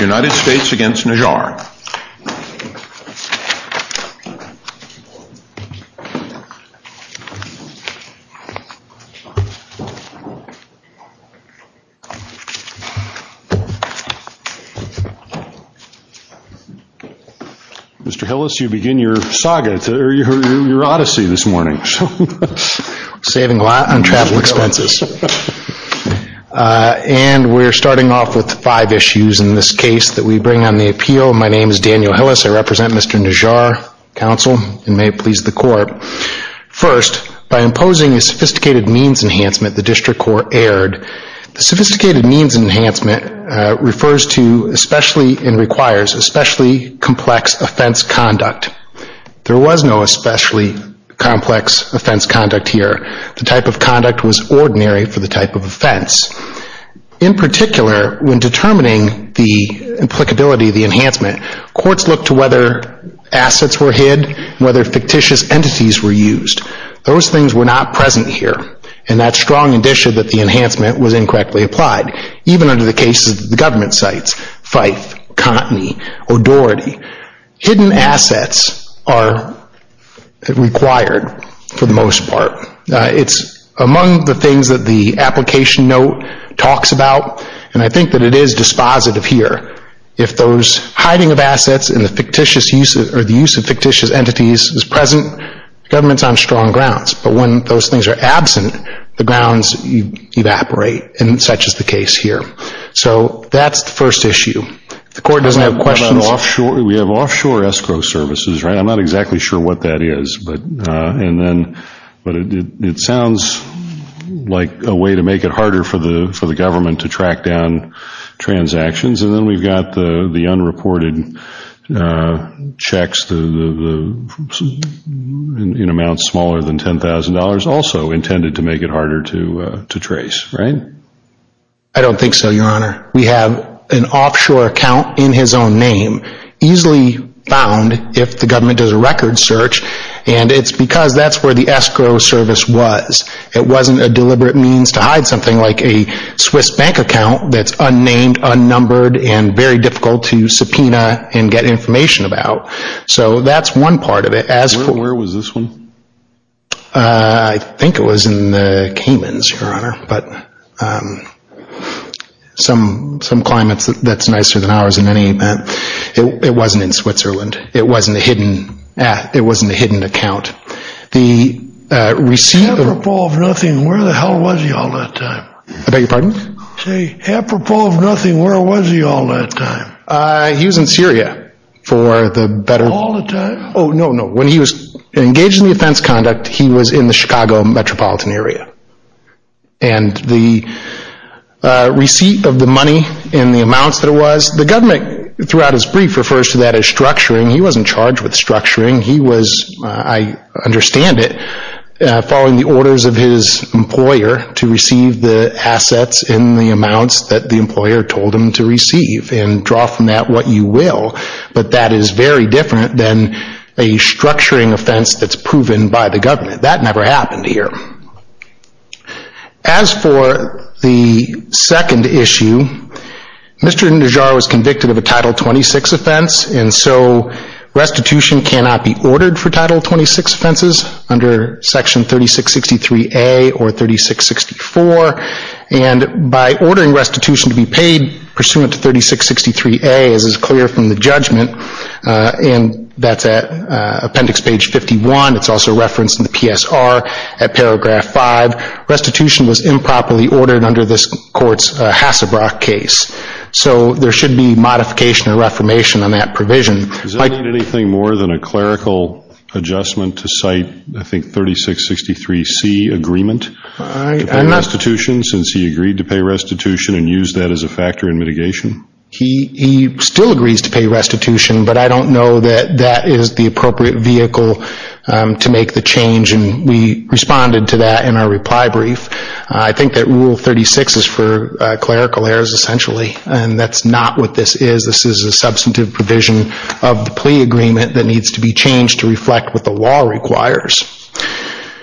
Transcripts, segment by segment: United States against Najjar Mr. Hillis, you begin your saga, your odyssey this morning. Saving a lot on travel expenses. And we're starting off with five issues in this case that we bring on the appeal. My name is Daniel Hillis. I represent Mr. Najjar, counsel, and may it please the court. First, by imposing a sophisticated means enhancement, the district court erred. The sophisticated means enhancement refers to especially and requires especially complex offense conduct. There was no especially complex offense conduct here. The type of conduct was ordinary for the type of offense. In particular, when determining the applicability of the enhancement, courts looked to whether assets were hid, whether fictitious entities were used. Those things were not present here. And that's strong indicia that the enhancement was incorrectly applied. Even under the cases of the government sites, Fife, Cottony, O'Doherty, hidden assets are required for the most part. It's among the things that the application note talks about and I think that it is dispositive here. If those hiding of assets and the fictitious use or the use of fictitious entities is present, government's on strong grounds. But when those things are absent, the grounds evaporate, and such is the case here. So that's the first issue. The court doesn't have questions. We have offshore escrow services, right? I'm not exactly sure what that is. But it sounds like a way to make it harder for the government to track down transactions. And then we've got the unreported checks in amounts smaller than $10,000. Also, the government's on strong grounds, so intended to make it harder to trace, right? I don't think so, Your Honor. We have an offshore account in his own name, easily found if the government does a record search. And it's because that's where the escrow service was. It wasn't a deliberate means to hide something like a Swiss bank account that's unnamed, unnumbered, and very difficult to subpoena and get information about. So that's one part of it. Where was this one? I think it was in the Caymans, Your Honor. But some climates, that's nicer than ours in any event. It wasn't in Switzerland. It wasn't a hidden, it wasn't a hidden account. The receipt of- Apropos of nothing, where the hell was he all that time? I beg your pardon? Say, apropos of nothing, where was he all that time? He was in Syria for the better- All the time? Oh, no, no. When he was engaged in the offense conduct, he was in the Chicago metropolitan area. And the receipt of the money and the amounts that it was, the government throughout his brief refers to that as structuring. He wasn't charged with structuring. He was, I understand it, following the orders of his employer to receive the assets in the amounts that the employer told him to receive and draw from that what you will. But that is very different than a structuring offense that's proven by the government. That never happened here. As for the second issue, Mr. Indujar was convicted of a Title 26 offense. And so restitution cannot be ordered for Title 26 offenses under Section 3663A or 3664. And by ordering restitution to be paid pursuant to 3663A, as is clear from the judgment, and that's at appendix page 51, it's also referenced in the PSR at paragraph 5, restitution was improperly ordered under this court's Hassebrock case. So there should be modification or reformation on that provision. Does that mean anything more than a clerical adjustment to cite, I think, 3663C agreement to pay restitution since he agreed to pay restitution and use that as a factor in mitigation? He still agrees to pay restitution, but I don't know that that is the appropriate vehicle to make the change. And we responded to that in our reply brief. I think that Rule 36 is for clerical errors, essentially. And that's not what this is. This is a substantive provision of the plea agreement that needs to be changed to reflect what the law requires.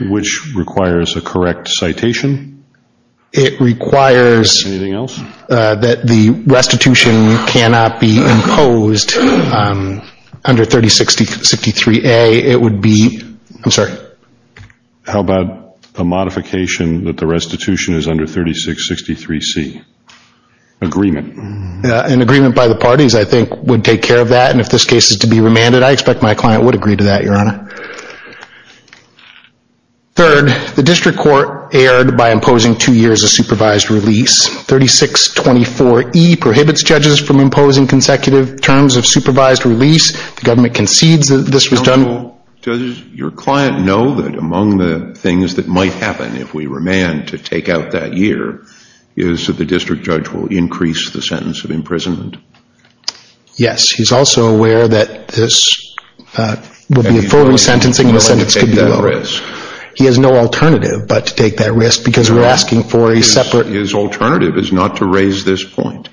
Which requires a correct citation? It requires that the restitution cannot be imposed under 3663A. It would be, I'm sorry? How about the modification that the restitution is under 3663C? Agreement. An agreement by the parties, I think, would take care of that. And if this case is to be remanded, I expect my client would agree to that, Your Honor. Third, the district court erred by imposing two years of supervised release. 3624E prohibits judges from imposing consecutive terms of supervised release. The government concedes that this was done. Does your client know that among the things that might happen if we remand to take out that year is that the district judge will increase the sentence of imprisonment? Yes. He's also aware that this will be a full re-sentencing and the sentence could be lowered. He has no alternative but to take that risk because we're asking for a separate... His alternative is not to raise this point.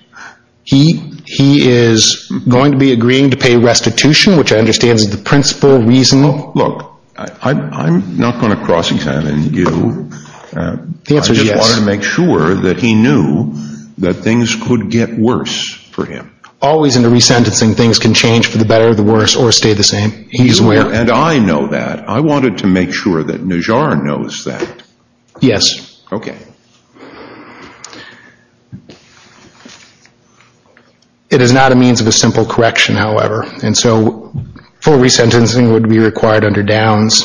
He is going to be agreeing to pay restitution, which I understand is the principal reason... Look, I'm not going to cross-examine you, I just wanted to make sure that he knew that things could get worse for him. Always in a re-sentencing, things can change for the better or the worse or stay the same. He's aware... And I know that. I wanted to make sure that Najjar knows that. Yes. Okay. It is not a means of a simple correction, however, and so full re-sentencing would be required under Downs.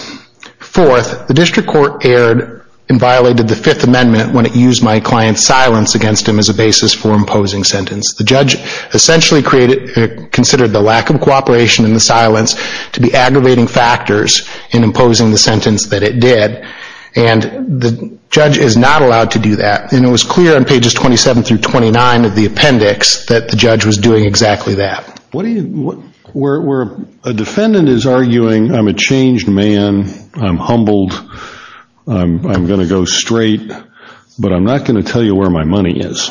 Fourth, the district court erred and violated the Fifth Amendment when it used my client's basis for imposing sentence. The judge essentially considered the lack of cooperation and the silence to be aggravating factors in imposing the sentence that it did and the judge is not allowed to do that. And it was clear on pages 27 through 29 of the appendix that the judge was doing exactly that. What do you... Where a defendant is arguing, I'm a changed man, I'm humbled, I'm going to go straight, but I'm not going to tell you where my money is.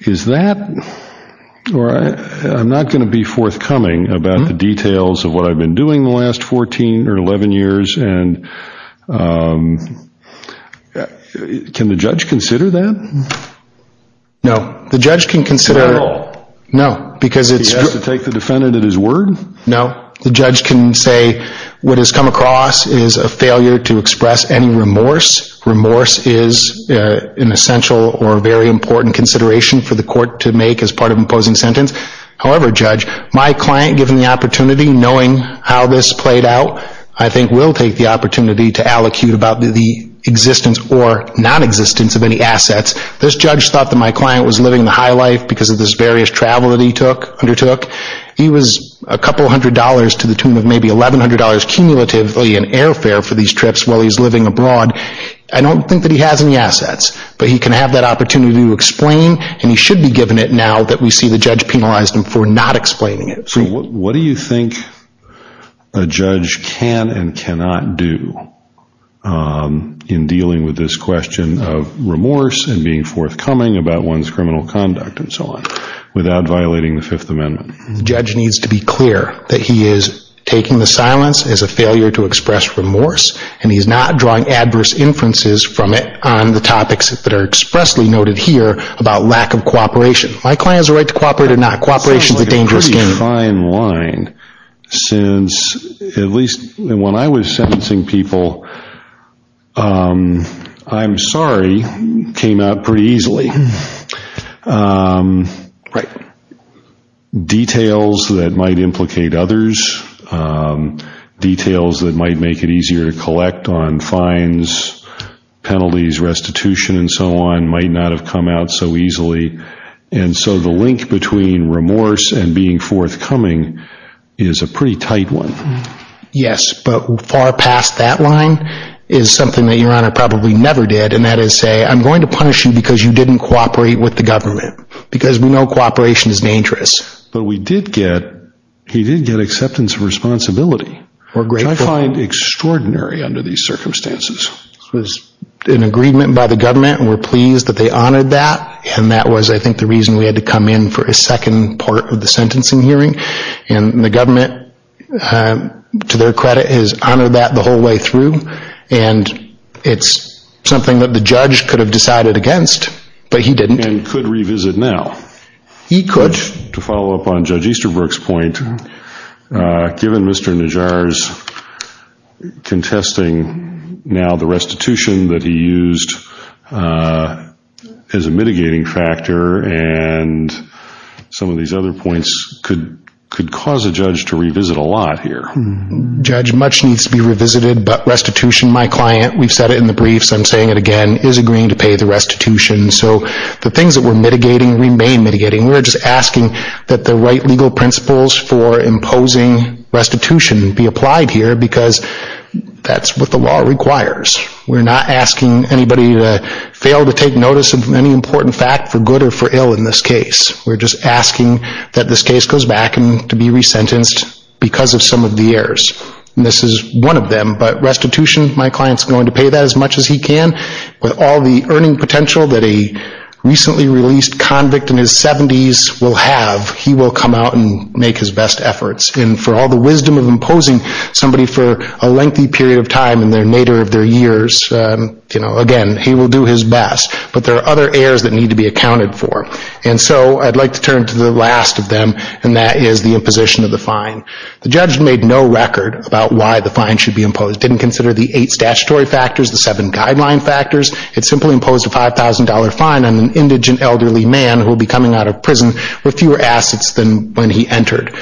Is that, or I'm not going to be forthcoming about the details of what I've been doing the last 14 or 11 years and can the judge consider that? The judge can consider... At all? No. Because it's... He has to take the defendant at his word? No. The judge can say what has come across is a failure to express any remorse. Remorse is an essential or very important consideration for the court to make as part of imposing sentence. However, judge, my client, given the opportunity, knowing how this played out, I think will take the opportunity to allocate about the existence or non-existence of any assets. This judge thought that my client was living the high life because of this various travel that he undertook. He was a couple hundred dollars to the tune of maybe $1,100 cumulatively in airfare for these trips while he's living abroad. I don't think that he has any assets, but he can have that opportunity to explain and he should be given it now that we see the judge penalized him for not explaining it. What do you think a judge can and cannot do in dealing with this question of remorse and being forthcoming about one's criminal conduct and so on without violating the Fifth Amendment? The judge needs to be clear that he is taking the silence as a failure to express remorse and he's not drawing adverse inferences from it on the topics that are expressly noted here about lack of cooperation. My client has a right to cooperate or not. Cooperation is a dangerous game. It's a fine line. When I was sentencing people, I'm sorry came out pretty easily. Details that might implicate others, details that might make it easier to collect on fines, penalties, restitution, and so on might not have come out so easily. The link between remorse and being forthcoming is a pretty tight one. Yes, but far past that line is something that Your Honor probably never did and that is say I'm going to punish you because you didn't cooperate with the government because we know cooperation is dangerous. But he did get acceptance and responsibility, which I find extraordinary under these circumstances. It was an agreement by the government and we're pleased that they honored that and that was I think the reason we had to come in for a second part of the sentencing hearing. The government, to their credit, has honored that the whole way through and it's something that the judge could have decided against, but he didn't. And could revisit now. He could. To follow up on Judge Easterbrook's point, given Mr. Najjar's contesting now the restitution that he used as a mitigating factor and some of these other points could cause a judge to revisit a lot here. Judge much needs to be revisited, but restitution, my client, we've said it in the briefs, I'm saying it again, is agreeing to pay the restitution. So the things that we're mitigating remain mitigating. We're just asking that the right legal principles for imposing restitution be applied here because that's what the law requires. We're not asking anybody to fail to take notice of any important fact for good or for ill in this case. We're just asking that this case goes back to be resentenced because of some of the errors. This is one of them, but restitution, my client is going to pay that as much as he can with all the earning potential that a recently released convict in his 70s will have, he will come out and make his best efforts. And for all the wisdom of imposing somebody for a lengthy period of time in the nadir of their years, again, he will do his best. But there are other errors that need to be accounted for. And so I'd like to turn to the last of them, and that is the imposition of the fine. The judge made no record about why the fine should be imposed, didn't consider the eight simply imposed a $5,000 fine on an indigent elderly man who will be coming out of prison with fewer assets than when he entered.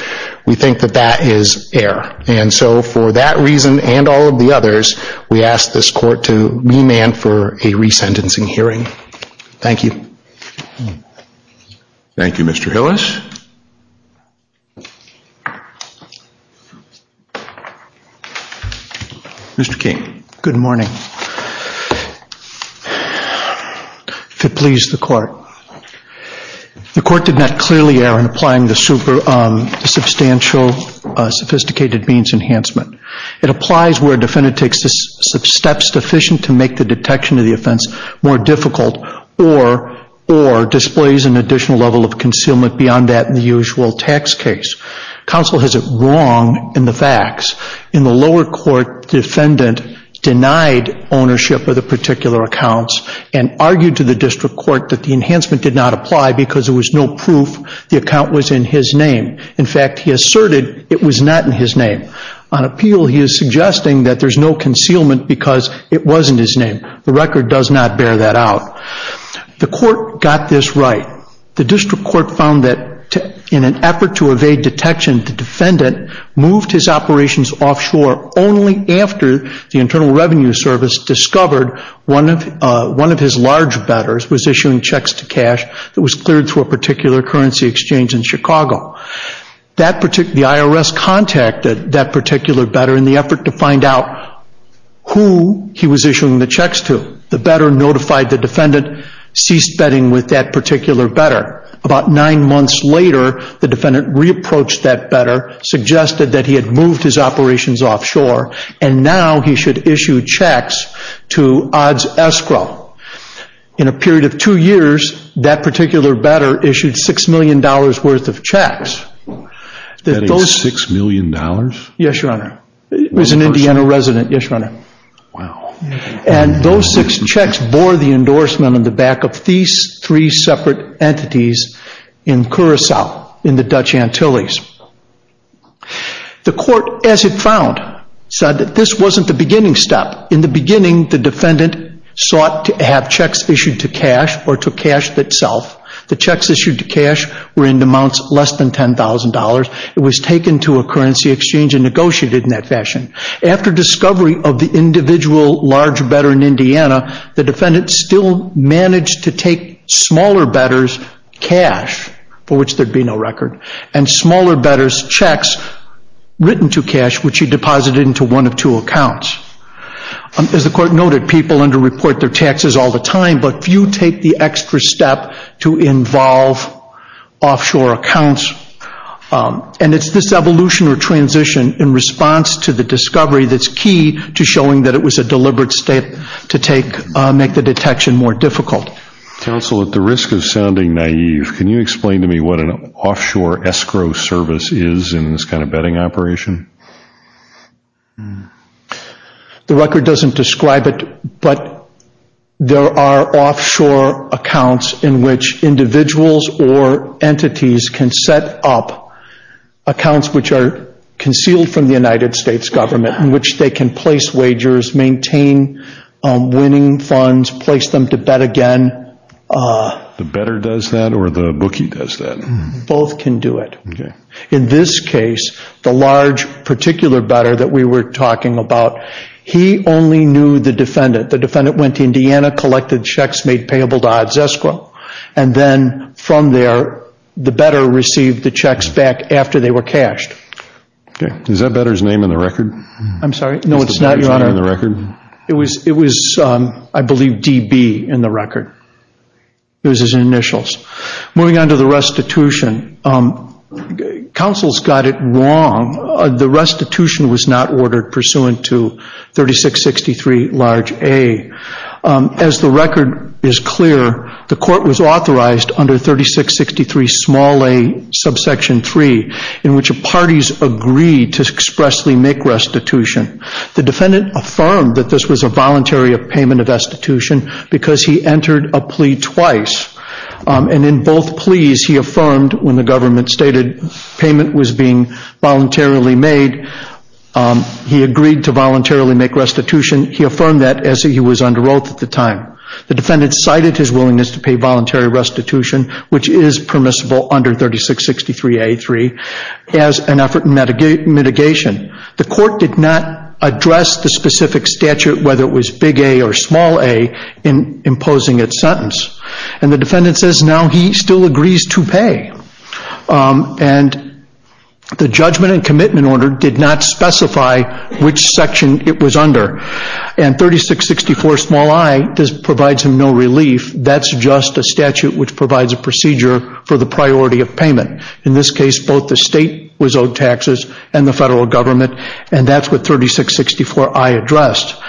We think that that is error. And so for that reason and all of the others, we ask this court to remand for a resentencing hearing. Thank you. Thank you, Mr. Hillis. Mr. King. Good morning. If it please the court. The court did not clearly err in applying the substantial sophisticated means enhancement. It applies where a defendant takes steps sufficient to make the detection of the offense more difficult or displays an additional level of concealment beyond that in the usual tax case. Counsel has it wrong in the facts. In the lower court, the defendant denied ownership of the particular accounts and argued to the district court that the enhancement did not apply because there was no proof the account was in his name. In fact, he asserted it was not in his name. On appeal, he is suggesting that there's no concealment because it was in his name. The record does not bear that out. The court got this right. The district court found that in an effort to evade detection, the defendant moved his operations offshore only after the Internal Revenue Service discovered one of his large bettors was issuing checks to cash that was cleared through a particular currency exchange in Chicago. The IRS contacted that particular bettor in the effort to find out who he was issuing the checks to. The bettor notified the defendant, ceased betting with that particular bettor. About nine months later, the defendant re-approached that bettor, suggested that he had moved his operations offshore, and now he should issue checks to odds escrow. In a period of two years, that particular bettor issued $6 million worth of checks. That is $6 million? Yes, Your Honor. It was an Indiana resident, yes, Your Honor. Wow. And those six checks bore the endorsement on the back of these three separate entities in Curacao, in the Dutch Antilles. The court, as it found, said that this wasn't the beginning step. In the beginning, the defendant sought to have checks issued to cash or to cash itself. The checks issued to cash were in amounts less than $10,000. It was taken to a currency exchange and negotiated in that fashion. After discovery of the individual large bettor in Indiana, the defendant still managed to take smaller bettors' cash, for which there'd be no record, and smaller bettors' checks written to cash, which he deposited into one of two accounts. As the court noted, people underreport their taxes all the time, but few take the extra step to involve offshore accounts. And it's this evolution or transition in response to the discovery that's key to showing that it was a deliberate step to make the detection more difficult. Counsel, at the risk of sounding naive, can you explain to me what an offshore escrow service is in this kind of betting operation? The record doesn't describe it, but there are offshore accounts in which individuals or entities can set up accounts which are concealed from the United States government, in which they can place wagers, maintain winning funds, place them to bet again. The bettor does that, or the bookie does that? Both can do it. In this case, the large particular bettor that we were talking about, he only knew the defendant. The defendant went to Indiana, collected checks made payable to odds escrow, and then from there, the bettor received the checks back after they were cashed. Is that bettor's name in the record? I'm sorry? No, it's not, Your Honor. It's the bettor's name in the record? It was, I believe, D.B. in the record. It was his initials. Moving on to the restitution, counsel's got it wrong. The restitution was not ordered pursuant to 3663 large A. As the record is clear, the court was authorized under 3663 small A, subsection 3, in which the parties agreed to expressly make restitution. The defendant affirmed that this was a voluntary payment of restitution because he entered a plea twice, and in both pleas, he affirmed when the government stated payment was being voluntarily made, he agreed to voluntarily make restitution. He affirmed that as he was under oath at the time. The defendant cited his willingness to pay voluntary restitution, which is permissible under 3663A.3, as an effort in mitigation. The court did not address the specific statute, whether it was big A or small A, in imposing its sentence. And the defendant says now he still agrees to pay. And the judgment and commitment order did not specify which section it was under. And 3664 small I provides him no relief. That's just a statute which provides a procedure for the priority of payment. In this case, both the state was owed taxes and the federal government, and that's what 3664I addressed.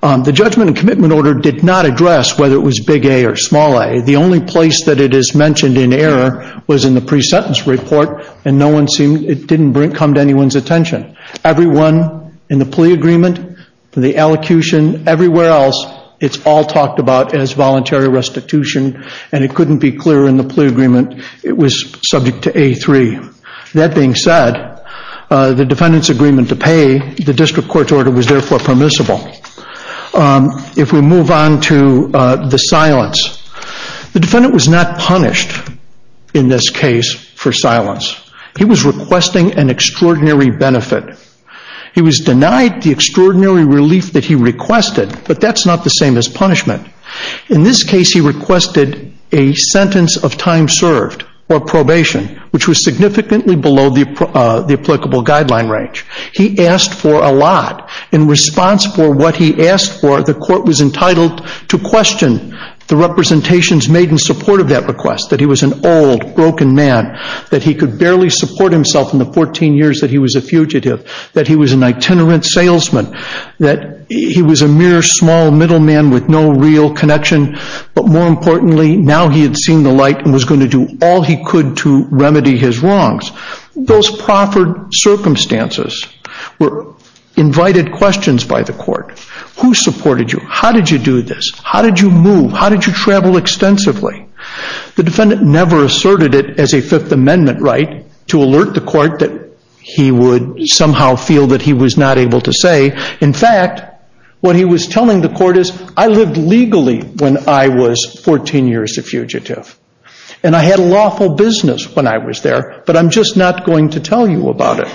The judgment and commitment order did not address whether it was big A or small A. The only place that it is mentioned in error was in the pre-sentence report, and it didn't come to anyone's attention. Everyone in the plea agreement, the elocution, everywhere else, it's all talked about as voluntary restitution, and it couldn't be clearer in the plea agreement, it was subject to A.3. That being said, the defendant's agreement to pay, the district court's order was therefore permissible. If we move on to the silence. The defendant was not punished in this case for silence. He was requesting an extraordinary benefit. He was denied the extraordinary relief that he requested, but that's not the same as punishment. In this case, he requested a sentence of time served or probation, which was significantly below the applicable guideline range. He asked for a lot. In response for what he asked for, the court was entitled to question the representations made in support of that request, that he was an old, broken man, that he could barely support himself in the 14 years that he was a fugitive, that he was an itinerant salesman, that he was a mere small middleman with no real connection, but more importantly, now he had seen the light and was going to do all he could to remedy his wrongs. Those proffered circumstances were invited questions by the court. Who supported you? How did you do this? How did you move? How did you travel extensively? The defendant never asserted it as a Fifth Amendment right to alert the court that he would somehow feel that he was not able to say. In fact, what he was telling the court is, I lived legally when I was 14 years a fugitive, and I had a lawful business when I was there, but I'm just not going to tell you about it.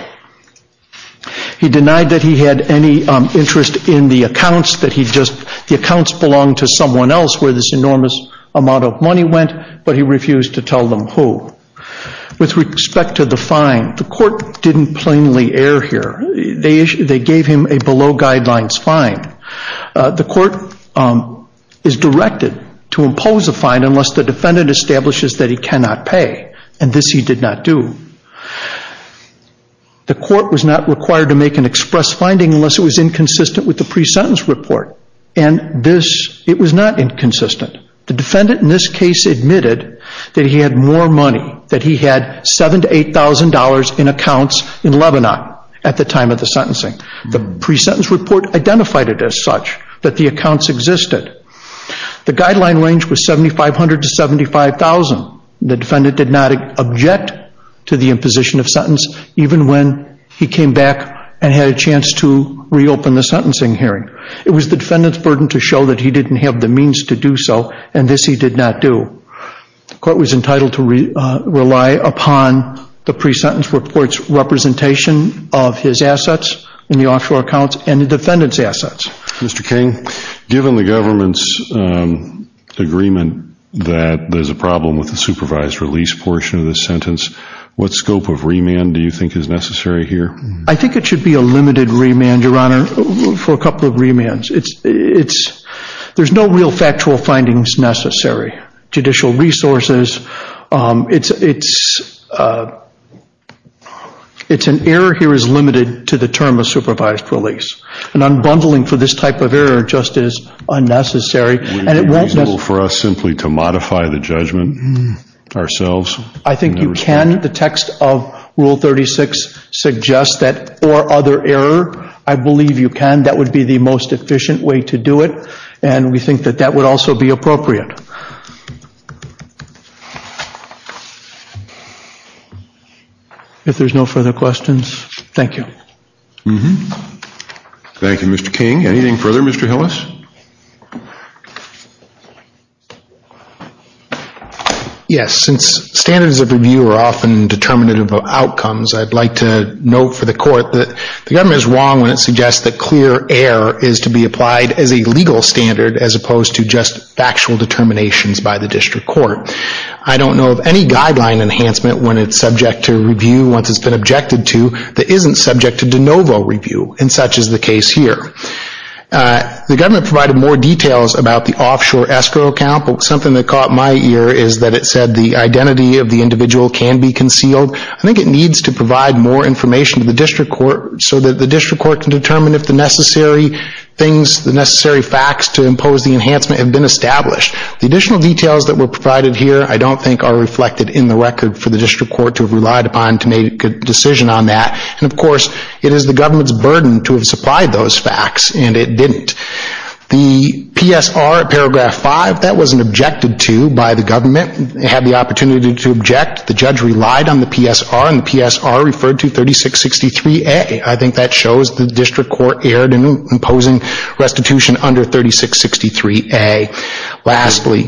He denied that he had any interest in the accounts, that the accounts belonged to someone else where this enormous amount of money went, but he refused to tell them who. With respect to the fine, the court didn't plainly err here. They gave him a below guidelines fine. The court is directed to impose a fine unless the defendant establishes that he cannot pay, and this he did not do. The court was not required to make an express finding unless it was inconsistent with the pre-sentence report, and this, it was not inconsistent. The defendant in this case admitted that he had more money, that he had $7,000 to $8,000 in accounts in Lebanon at the time of the sentencing. The pre-sentence report identified it as such, that the accounts existed. The guideline range was $7,500 to $75,000. The defendant did not object to the imposition of sentence, even when he came back and had a chance to reopen the sentencing hearing. It was the defendant's burden to show that he didn't have the means to do so, and this he did not do. The court was entitled to rely upon the pre-sentence report's representation of his assets in the offshore accounts and the defendant's assets. Mr. King, given the government's agreement that there's a problem with the supervised release portion of the sentence, what scope of remand do you think is necessary here? I think it should be a limited remand, Your Honor, for a couple of remands. There's no real factual findings necessary. Judicial resources, it's an error here that is limited to the term of supervised release. An unbundling for this type of error just is unnecessary. Would it be reasonable for us simply to modify the judgment ourselves? I think you can. The text of Rule 36 suggests that, or other error, I believe you can. That would be the most efficient way to do it, and we think that that would also be appropriate. If there's no further questions, thank you. Thank you, Mr. King. Anything further, Mr. Hillis? Yes, since standards of review are often determinative of outcomes, I'd like to note for the court that the government is wrong when it suggests that clear error is to be applied as a legal standard as opposed to just factual determinations by the district court. I don't know of any guideline enhancement when it's subject to review once it's been objected to that isn't subject to de novo review, and such is the case here. The government provided more details about the offshore escrow account, but something that caught my ear is that it said the identity of the individual can be concealed. I think it needs to provide more information to the district court so that the district facts to impose the enhancement have been established. The additional details that were provided here I don't think are reflected in the record for the district court to have relied upon to make a decision on that, and of course it is the government's burden to have supplied those facts, and it didn't. The PSR paragraph 5, that wasn't objected to by the government. It had the opportunity to object. The judge relied on the PSR, and the PSR referred to 3663A. I think that shows the district court erred in imposing restitution under 3663A. Lastly,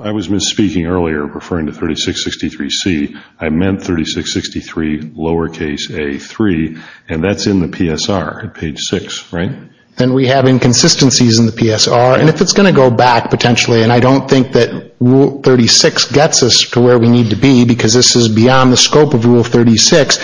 I was misspeaking earlier referring to 3663C. I meant 3663 lowercase a3, and that's in the PSR at page 6, right? And we have inconsistencies in the PSR, and if it's going to go back potentially, and I don't think that rule 36 gets us to where we need to be because this is beyond the scope of rule 36,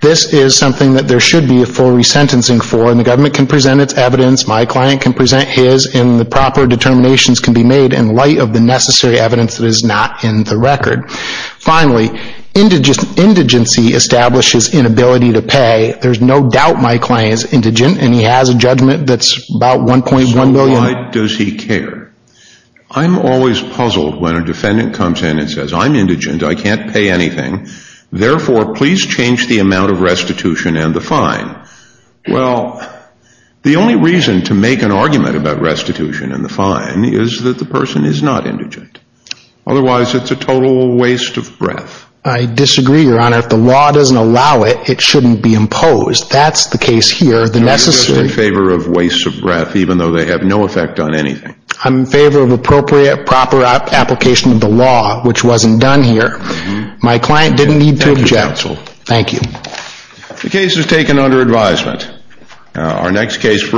this is something that there should be a full resentencing for, and the government can present its evidence, my client can present his, and the proper determinations can be made in light of the necessary evidence that is not in the record. Finally, indigency establishes inability to pay. There's no doubt my client is indigent, and he has a judgment that's about 1.1 million So why does he care? I'm always puzzled when a defendant comes in and says, I'm indigent, I can't pay anything, therefore, please change the amount of restitution and the fine. Well, the only reason to make an argument about restitution and the fine is that the person is not indigent. Otherwise, it's a total waste of breath. I disagree, Your Honor. If the law doesn't allow it, it shouldn't be imposed. That's the case here. The necessary... You're in favor of waste of breath, even though they have no effect on anything. I'm in favor of appropriate, proper application of the law, which wasn't done here. My client didn't need to object. Thank you. The case is taken under advisement. Our next case...